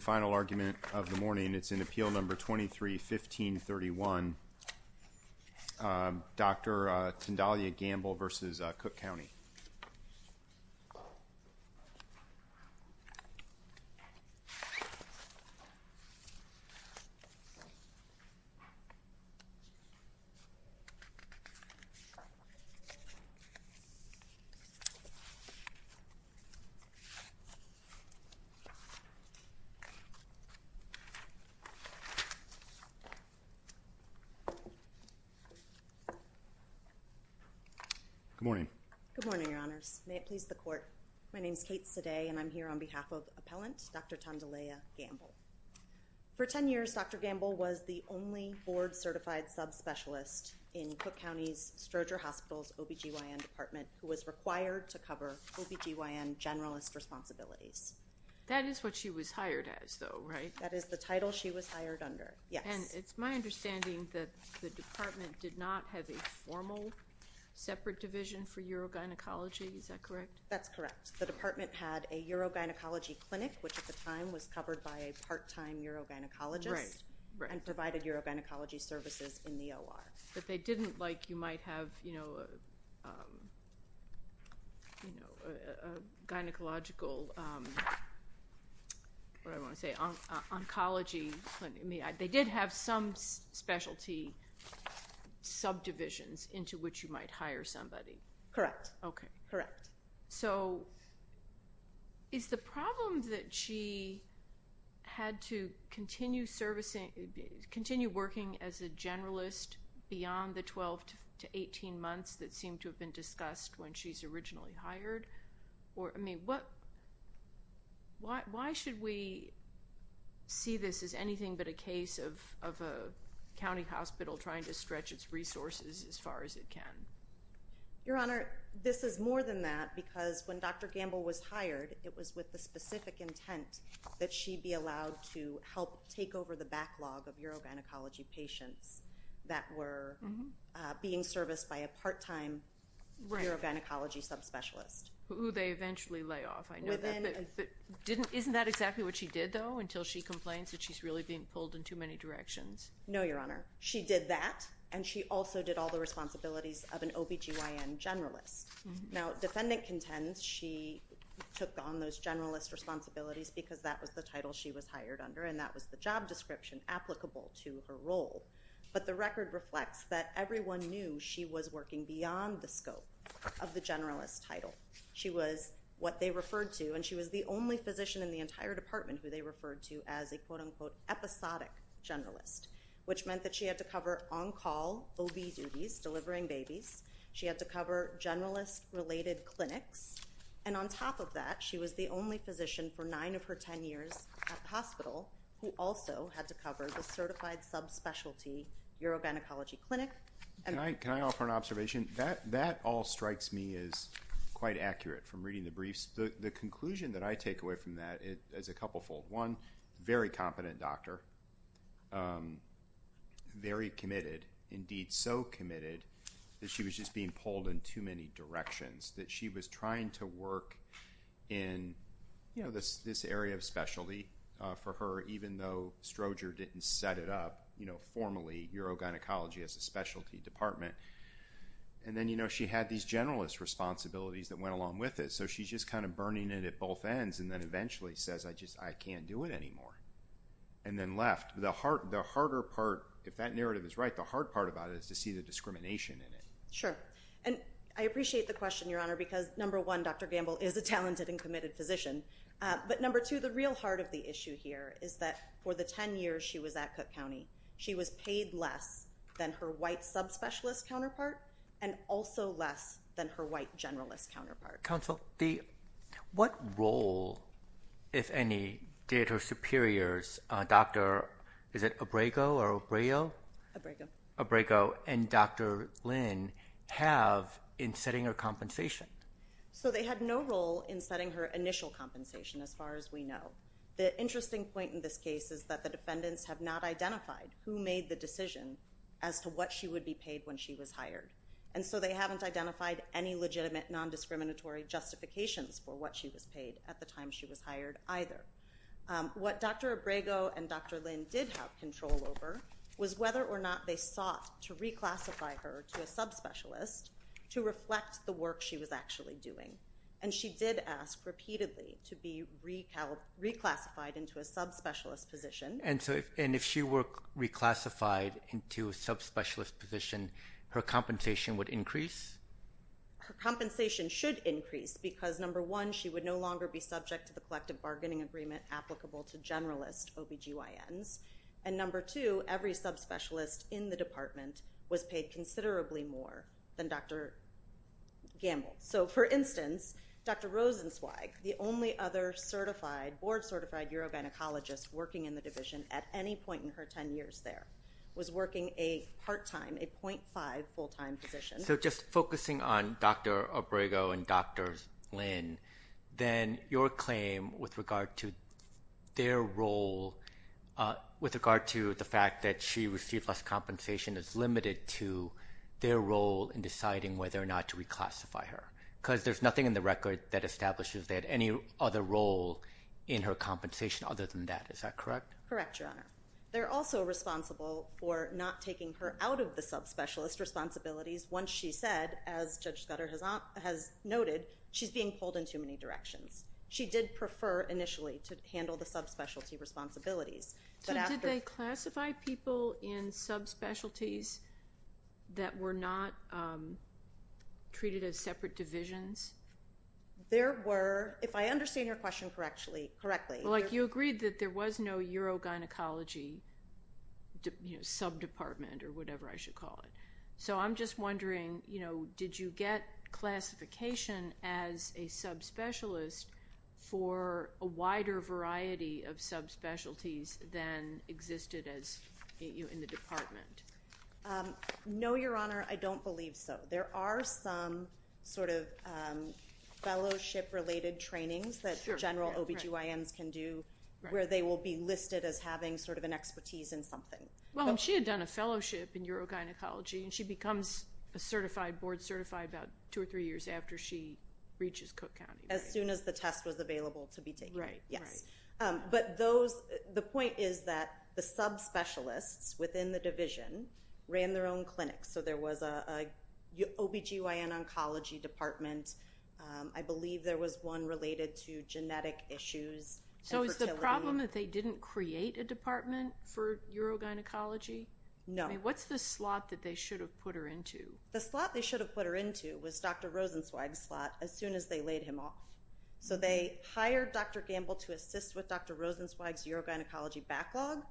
The final argument of the morning is in Appeal No. 23-1531, Dr. Tondalaya Gamble v. Cook County. Good morning. Good morning, Your Honors. May it please the Court. My name is Kate Seday, and I'm here on behalf of Appellant Dr. Tondalaya Gamble. For 10 years, Dr. Gamble was the only board-certified subspecialist in Cook County's Stroger Hospital's OB-GYN department who was required to cover OB-GYN generalist responsibilities. That is what she was hired as, though, right? That is the title she was hired under, yes. And it's my understanding that the department did not have a formal separate division for urogynecology, is that correct? That's correct. The department had a urogynecology clinic, which at the time was covered by a part-time urogynecologist and provided urogynecology services in the OR. But they didn't, like, you might have, you know, gynecological, what do I want to say, oncology. They did have some specialty subdivisions into which you might hire somebody. Correct. Okay. Correct. So is the problem that she had to continue servicing, continue working as a generalist beyond the 12 to 18 months that seemed to have been discussed when she's originally hired? Or, I mean, what, why should we see this as anything but a case of a county hospital trying to stretch its resources as far as it can? Your Honor, this is more than that, because when Dr. Gamble was hired, it was with the specific intent that she be allowed to help take over the backlog of urogynecology patients that were being serviced by a part-time urogynecology subspecialist. Who they eventually lay off, I know that. But isn't that exactly what she did, though, until she complains that she's really being pulled in too many directions? No, Your Honor. She did that, and she also did all the responsibilities of an OBGYN generalist. Now, defendant contends she took on those generalist responsibilities because that was the title she was hired under, and that was the job description applicable to her role. But the record reflects that everyone knew she was working beyond the scope of the generalist title. She was what they referred to, and she was the only physician in the entire department who they referred to as a quote-unquote episodic generalist, which meant that she had to cover on-call OB duties, delivering babies. She had to cover generalist-related clinics. And on top of that, she was the only physician for nine of her ten years at the hospital who also had to cover the certified subspecialty urogynecology clinic. Can I offer an observation? That all strikes me as quite accurate from reading the briefs. The conclusion that I take away from that is a couple-fold. One, very competent doctor, very committed, indeed so committed that she was just being pulled in too many directions, that she was trying to work in this area of specialty for her even though Stroger didn't set it up formally urogynecology as a specialty department. And then she had these generalist responsibilities that went along with it, so she's just kind of burning it at both ends and then eventually says, I just can't do it anymore, and then left. The harder part, if that narrative is right, the hard part about it is to see the discrimination in it. Sure. And I appreciate the question, Your Honor, because number one, Dr. Gamble is a talented and committed physician. But number two, the real heart of the issue here is that for the ten years she was at Cook County, she was paid less than her white subspecialist counterpart and also less than her white generalist counterpart. Counsel, what role, if any, did her superiors, Dr. – is it Abrego or Abreo? Abrego. Abrego and Dr. Lynn have in setting her compensation. So they had no role in setting her initial compensation as far as we know. The interesting point in this case is that the defendants have not identified who made the decision as to what she would be paid when she was hired. And so they haven't identified any legitimate nondiscriminatory justifications for what she was paid at the time she was hired either. What Dr. Abrego and Dr. Lynn did have control over was whether or not they sought to reclassify her to a subspecialist to reflect the work she was actually doing. And she did ask repeatedly to be reclassified into a subspecialist position. And if she were reclassified into a subspecialist position, her compensation would increase? Her compensation should increase because, number one, she would no longer be subject to the collective bargaining agreement applicable to generalist OBGYNs. And, number two, every subspecialist in the department was paid considerably more than Dr. Gamble. So, for instance, Dr. Rosenzweig, the only other board-certified urogynecologist working in the division at any point in her 10 years there, was working a part-time, a .5 full-time position. So just focusing on Dr. Abrego and Dr. Lynn, then your claim with regard to their role, with regard to the fact that she received less compensation, is limited to their role in deciding whether or not to reclassify her? Because there's nothing in the record that establishes they had any other role in her compensation other than that. Is that correct? Correct, Your Honor. They're also responsible for not taking her out of the subspecialist responsibilities once she said, as Judge Scudder has noted, she's being pulled in too many directions. She did prefer initially to handle the subspecialty responsibilities. So did they classify people in subspecialties that were not treated as separate divisions? There were, if I understand your question correctly. You agreed that there was no urogynecology sub-department, or whatever I should call it. So I'm just wondering, did you get classification as a subspecialist for a wider variety of subspecialties than existed in the department? No, Your Honor, I don't believe so. There are some sort of fellowship-related trainings that general OBGYNs can do where they will be listed as having sort of an expertise in something. Well, she had done a fellowship in urogynecology, and she becomes a certified board certified about two or three years after she reaches Cook County. As soon as the test was available to be taken. Right, right. But the point is that the subspecialists within the division ran their own clinics. So there was an OBGYN oncology department. I believe there was one related to genetic issues. So is the problem that they didn't create a department for urogynecology? No. What's the slot that they should have put her into? The slot they should have put her into was Dr. Rosenzweig's slot as soon as they laid him off. So they hired Dr. Gamble to assist with Dr. Rosenzweig's urogynecology backlog,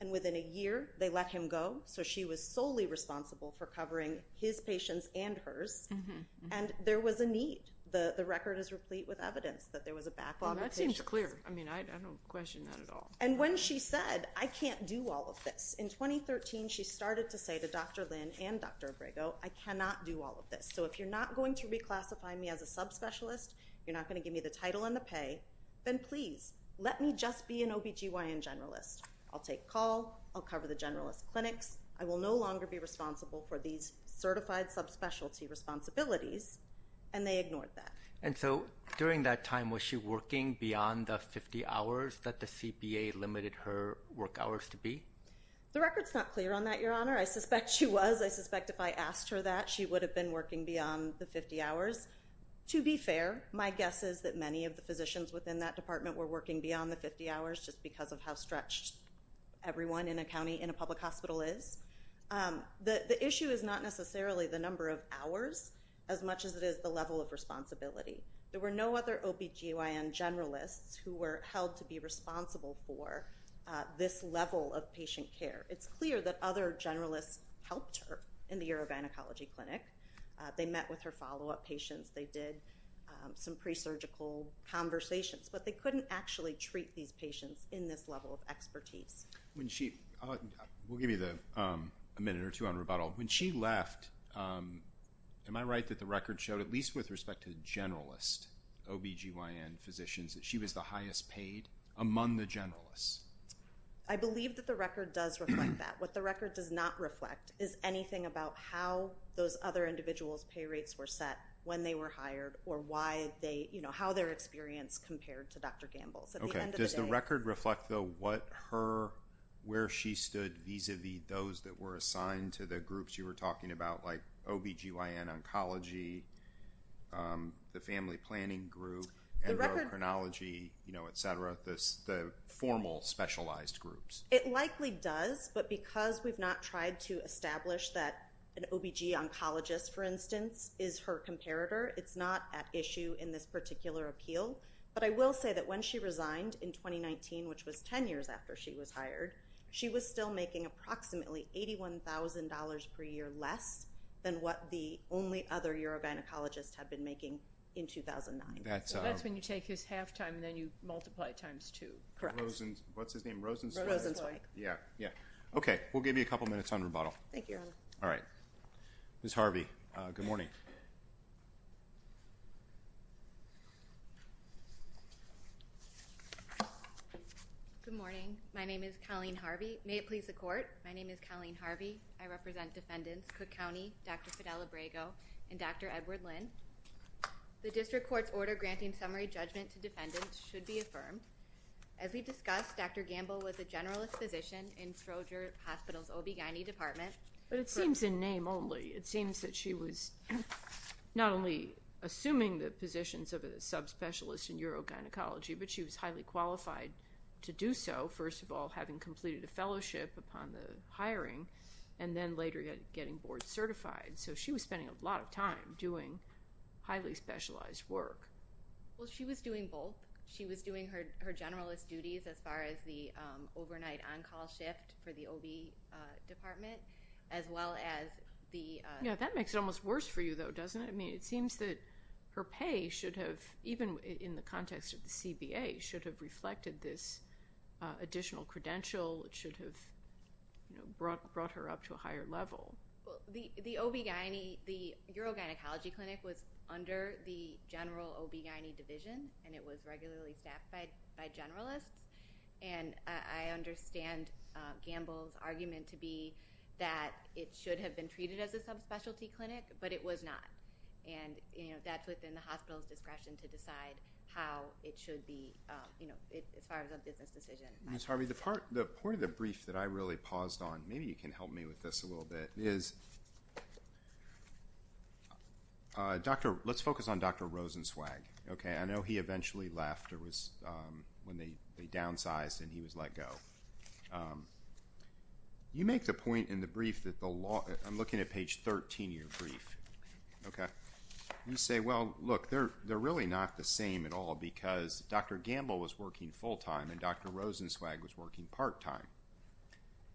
and within a year they let him go. So she was solely responsible for covering his patients and hers, and there was a need. The record is replete with evidence that there was a backlog of patients. That seems clear. I mean, I don't question that at all. And when she said, I can't do all of this, in 2013 she started to say to Dr. Lynn and Dr. Abrego, I cannot do all of this. So if you're not going to reclassify me as a subspecialist, you're not going to give me the title and the pay, then please, let me just be an OBGYN generalist. I'll take a call. I'll cover the generalist clinics. I will no longer be responsible for these certified subspecialty responsibilities, and they ignored that. And so during that time, was she working beyond the 50 hours that the CPA limited her work hours to be? The record's not clear on that, Your Honor. I suspect she was. I suspect if I asked her that, she would have been working beyond the 50 hours. To be fair, my guess is that many of the physicians within that department were working beyond the 50 hours just because of how stretched everyone in a county, in a public hospital is. The issue is not necessarily the number of hours as much as it is the level of responsibility. There were no other OBGYN generalists who were held to be responsible for this level of patient care. It's clear that other generalists helped her in the urogynecology clinic. They met with her follow-up patients. They did some presurgical conversations, but they couldn't actually treat these patients in this level of expertise. We'll give you a minute or two on rebuttal. When she left, am I right that the record showed, at least with respect to the generalist OBGYN physicians, that she was the highest paid among the generalists? I believe that the record does reflect that. What the record does not reflect is anything about how those other individuals' pay rates were set when they were hired or how their experience compared to Dr. Gamble's. Does the record reflect, though, where she stood vis-a-vis those that were assigned to the groups you were talking about, like OBGYN oncology, the family planning group, endocrinology, et cetera, the formal specialized groups? It likely does, but because we've not tried to establish that an OBG oncologist, for instance, is her comparator, it's not at issue in this particular appeal. But I will say that when she resigned in 2019, which was 10 years after she was hired, she was still making approximately $81,000 per year less than what the only other urogynecologist had been making in 2009. So that's when you take his half-time and then you multiply it times two. Correct. What's his name? Rosenzweig. Rosenzweig, yeah. Okay, we'll give you a couple minutes on rebuttal. Thank you, Your Honor. All right. Ms. Harvey, good morning. Good morning. My name is Colleen Harvey. May it please the Court, my name is Colleen Harvey. I represent defendants Cook County, Dr. Fidel Abrego, and Dr. Edward Lynn. The district court's order granting summary judgment to defendants should be affirmed. As we discussed, Dr. Gamble was a generalist physician in Stroger Hospital's OB-GYN department. But it seems in name only. It seems that she was not only assuming the positions of a subspecialist in urogynecology, but she was highly qualified to do so, first of all, having completed a fellowship upon the hiring, and then later getting board certified. So she was spending a lot of time doing highly specialized work. Well, she was doing both. She was doing her generalist duties as far as the overnight on-call shift for the OB department, as well as the- Yeah, that makes it almost worse for you, though, doesn't it? I mean, it seems that her pay should have, even in the context of the CBA, should have reflected this additional credential. It should have brought her up to a higher level. Well, the OB-GYN, the urogynecology clinic was under the general OB-GYN division, and it was regularly staffed by generalists. And I understand Gamble's argument to be that it should have been treated as a subspecialty clinic, but it was not. And, you know, that's within the hospital's discretion to decide how it should be, you know, as far as a business decision. Ms. Harvey, the part of the brief that I really paused on, maybe you can help me with this a little bit. Is, let's focus on Dr. Rosenzweig, okay? I know he eventually left when they downsized and he was let go. You make the point in the brief that the law- I'm looking at page 13 of your brief, okay? You say, well, look, they're really not the same at all because Dr. Gamble was working full-time and Dr. Rosenzweig was working part-time.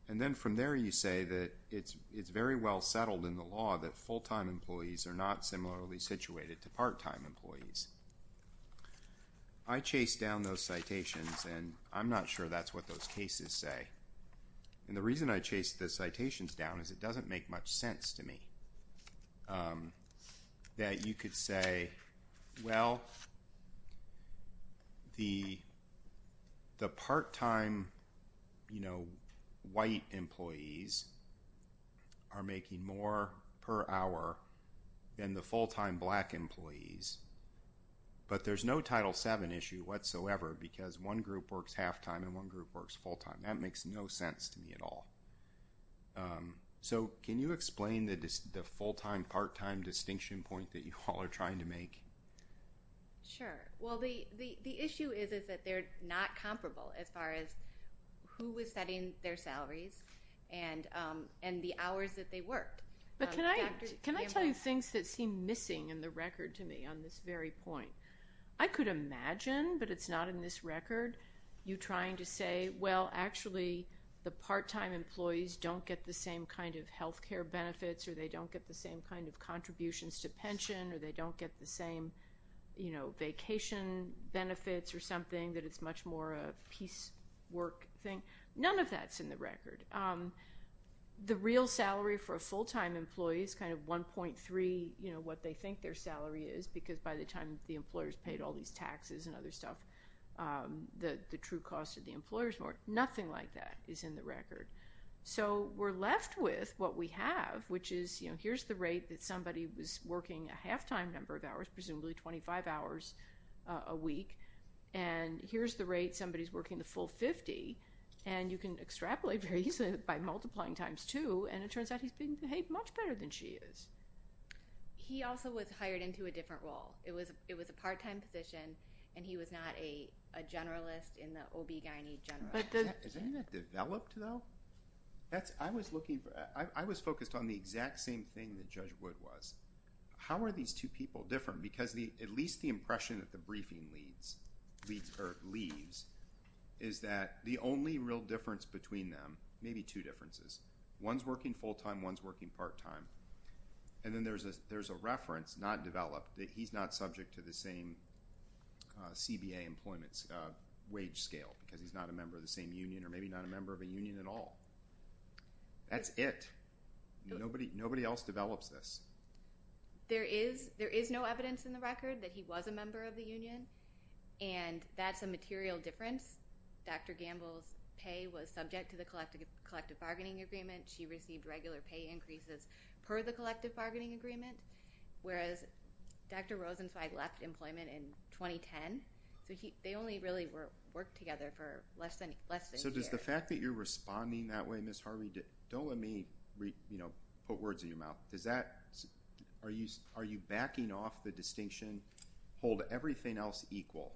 And then from there you say that it's very well settled in the law that full-time employees are not similarly situated to part-time employees. I chased down those citations, and I'm not sure that's what those cases say. And the reason I chased the citations down is it doesn't make much sense to me that you could say, Well, the part-time, you know, white employees are making more per hour than the full-time black employees. But there's no Title VII issue whatsoever because one group works half-time and one group works full-time. That makes no sense to me at all. So can you explain the full-time, part-time distinction point that you all are trying to make? Sure. Well, the issue is that they're not comparable as far as who was setting their salaries and the hours that they worked. But can I tell you things that seem missing in the record to me on this very point? I could imagine, but it's not in this record, you trying to say, Well, actually the part-time employees don't get the same kind of health care benefits, or they don't get the same kind of contributions to pension, or they don't get the same, you know, vacation benefits or something, that it's much more of a piece work thing. None of that's in the record. The real salary for a full-time employee is kind of 1.3, you know, what they think their salary is, because by the time the employer's paid all these taxes and other stuff, the true cost of the employer's more. Nothing like that is in the record. So we're left with what we have, which is, you know, here's the rate that somebody was working a half-time number of hours, presumably 25 hours a week, and here's the rate somebody's working the full 50, and you can extrapolate very easily by multiplying times two, and it turns out he's being behaved much better than she is. He also was hired into a different role. It was a part-time position, and he was not a generalist in the OB-GYN general. Isn't that developed, though? I was focused on the exact same thing that Judge Wood was. How are these two people different? Because at least the impression that the briefing leaves is that the only real difference between them, maybe two differences, one's working full-time, one's working part-time, and then there's a reference not developed that he's not subject to the same CBA employment wage scale because he's not a member of the same union or maybe not a member of a union at all. That's it. Nobody else develops this. There is no evidence in the record that he was a member of the union, and that's a material difference. Dr. Gamble's pay was subject to the collective bargaining agreement. She received regular pay increases per the collective bargaining agreement, whereas Dr. Rosenzweig left employment in 2010, so they only really worked together for less than a year. So does the fact that you're responding that way, Ms. Harvey, don't let me put words in your mouth. Are you backing off the distinction, hold everything else equal?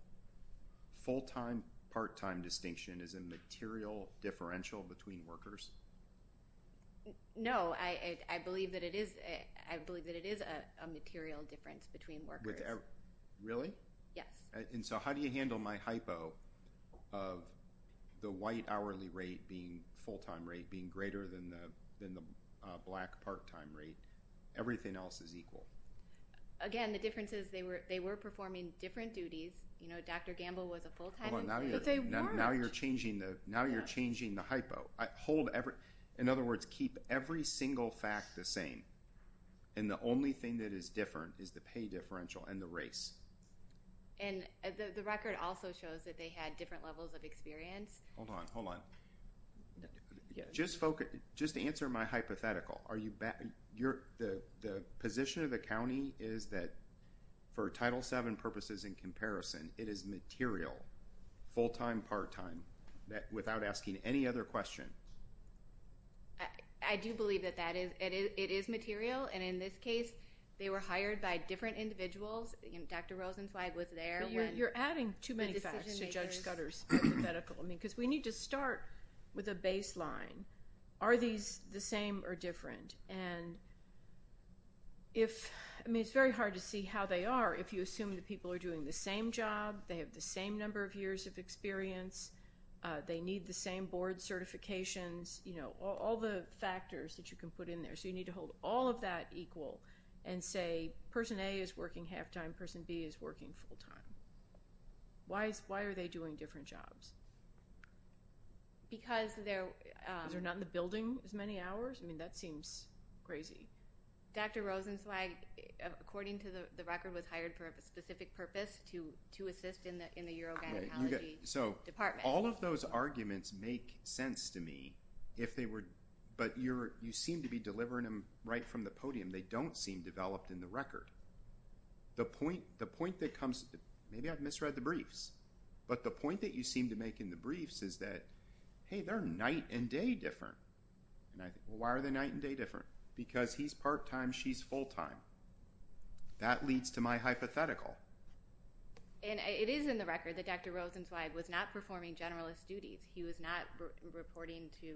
Full-time, part-time distinction is a material differential between workers? No, I believe that it is a material difference between workers. Really? Yes. And so how do you handle my hypo of the white hourly rate being full-time rate, being greater than the black part-time rate, everything else is equal? Again, the difference is they were performing different duties. Dr. Gamble was a full-time employee, but they weren't. Now you're changing the hypo. In other words, keep every single fact the same, and the only thing that is different is the pay differential and the race. And the record also shows that they had different levels of experience. Hold on, hold on. Just answer my hypothetical. The position of the county is that for Title VII purposes in comparison, it is material, full-time, part-time, without asking any other question. I do believe that it is material, and in this case, they were hired by different individuals. Dr. Rosenzweig was there when the decision was made. You're adding too many facts to Judge Scudder's hypothetical, because we need to start with a baseline. Are these the same or different? I mean, it's very hard to see how they are if you assume that people are doing the same job, they have the same number of years of experience, they need the same board certifications, all the factors that you can put in there. So you need to hold all of that equal and say Person A is working half-time, Person B is working full-time. Why are they doing different jobs? Because they're... Because they're not in the building as many hours? I mean, that seems crazy. Dr. Rosenzweig, according to the record, was hired for a specific purpose, to assist in the urogynecology department. So all of those arguments make sense to me, but you seem to be delivering them right from the podium. They don't seem developed in the record. The point that comes, maybe I've misread the briefs, but the point that you seem to make in the briefs is that, hey, they're night and day different. Why are they night and day different? Because he's part-time, she's full-time. That leads to my hypothetical. And it is in the record that Dr. Rosenzweig was not performing generalist duties. He was not reporting to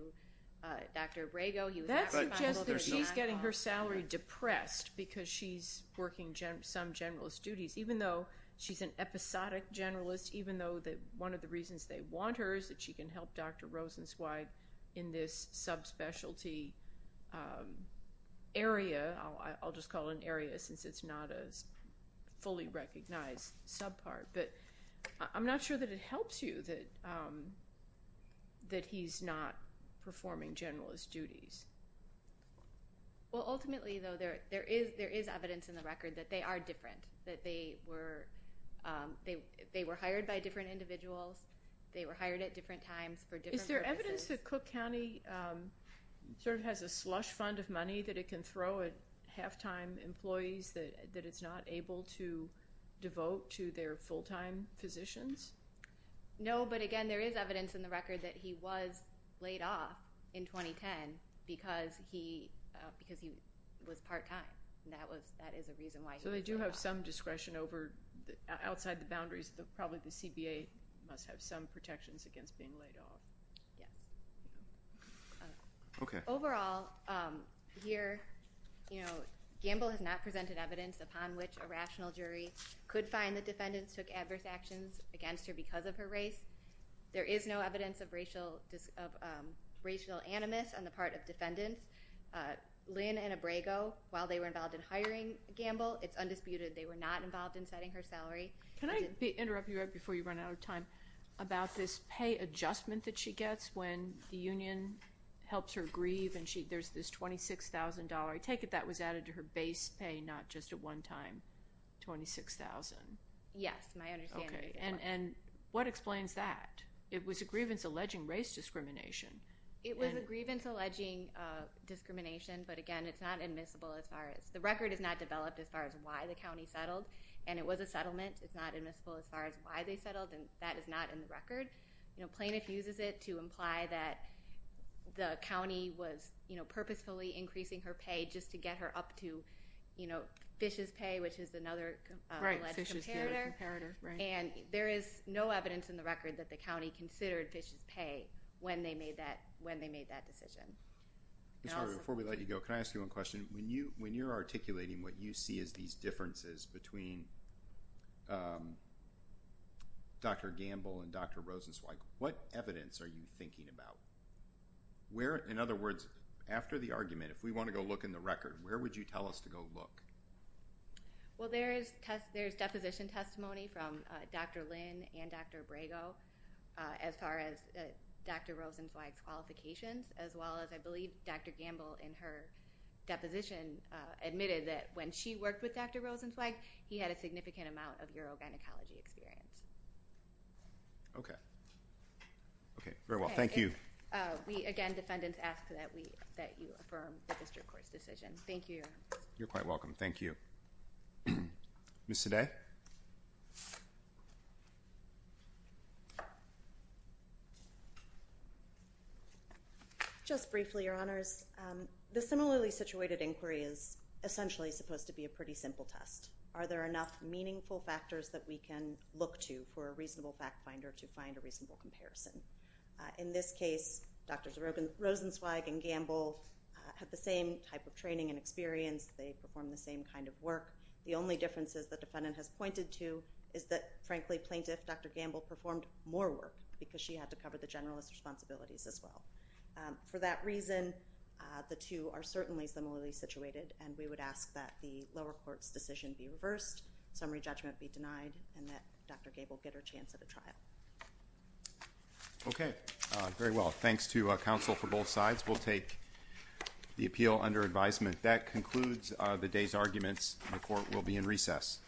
Dr. Abrego. That suggests that she's getting her salary depressed because she's working some generalist duties, even though she's an episodic generalist, even though one of the reasons they want her is that she can help Dr. Rosenzweig in this subspecialty area. I'll just call it an area since it's not a fully recognized subpart. But I'm not sure that it helps you that he's not performing generalist duties. Well, ultimately, though, there is evidence in the record that they are different, that they were hired by different individuals, they were hired at different times for different purposes. Is there evidence that Cook County sort of has a slush fund of money that it can throw at half-time employees that it's not able to devote to their full-time physicians? No, but, again, there is evidence in the record that he was laid off in 2010 because he was part-time. That is a reason why he was laid off. So they do have some discretion outside the boundaries. Probably the CBA must have some protections against being laid off. Yes. Okay. Overall, here, Gamble has not presented evidence upon which a rational jury could find the defendants took adverse actions against her because of her race. There is no evidence of racial animus on the part of defendants. Lynn and Abrego, while they were involved in hiring Gamble, it's undisputed they were not involved in setting her salary. Can I interrupt you right before you run out of time about this pay adjustment that she gets when the union helps her grieve and there's this $26,000. I take it that was added to her base pay, not just at one time, $26,000. Yes, my understanding is that. Okay. And what explains that? It was a grievance alleging race discrimination. It was a grievance alleging discrimination. But, again, it's not admissible as far as the record is not developed as far as why the county settled. And it was a settlement. It's not admissible as far as why they settled. And that is not in the record. Plaintiff uses it to imply that the county was purposefully increasing her pay just to get her up to Fish's Pay, which is another alleged comparator. Right, Fish's Pay. And there is no evidence in the record that the county considered Fish's Pay when they made that decision. Before we let you go, can I ask you one question? When you're articulating what you see as these differences between Dr. Gamble and Dr. Rosenzweig, what evidence are you thinking about? In other words, after the argument, if we want to go look in the record, where would you tell us to go look? Well, there is deposition testimony from Dr. Lynn and Dr. Abrego as far as Dr. Rosenzweig's qualifications, as well as I believe Dr. Gamble in her deposition admitted that when she worked with Dr. Rosenzweig, he had a significant amount of urogynecology experience. Okay. Okay, very well. Thank you. We, again, defendants ask that you affirm the district court's decision. Thank you. You're quite welcome. Ms. Sade? Just briefly, Your Honors, the similarly situated inquiry is essentially supposed to be a pretty simple test. Are there enough meaningful factors that we can look to for a reasonable fact finder to find a reasonable comparison? In this case, Drs. Rosenzweig and Gamble had the same type of training and experience. They performed the same kind of work. The only differences the defendant has pointed to is that, frankly, plaintiff Dr. Gamble performed more work because she had to cover the generalist responsibilities as well. For that reason, the two are certainly similarly situated, and we would ask that the lower court's decision be reversed, summary judgment be denied, and that Dr. Gamble get her chance at a trial. Okay. Very well. Thanks to counsel for both sides. We'll take the appeal under advisement. That concludes the day's arguments. The court will be in recess.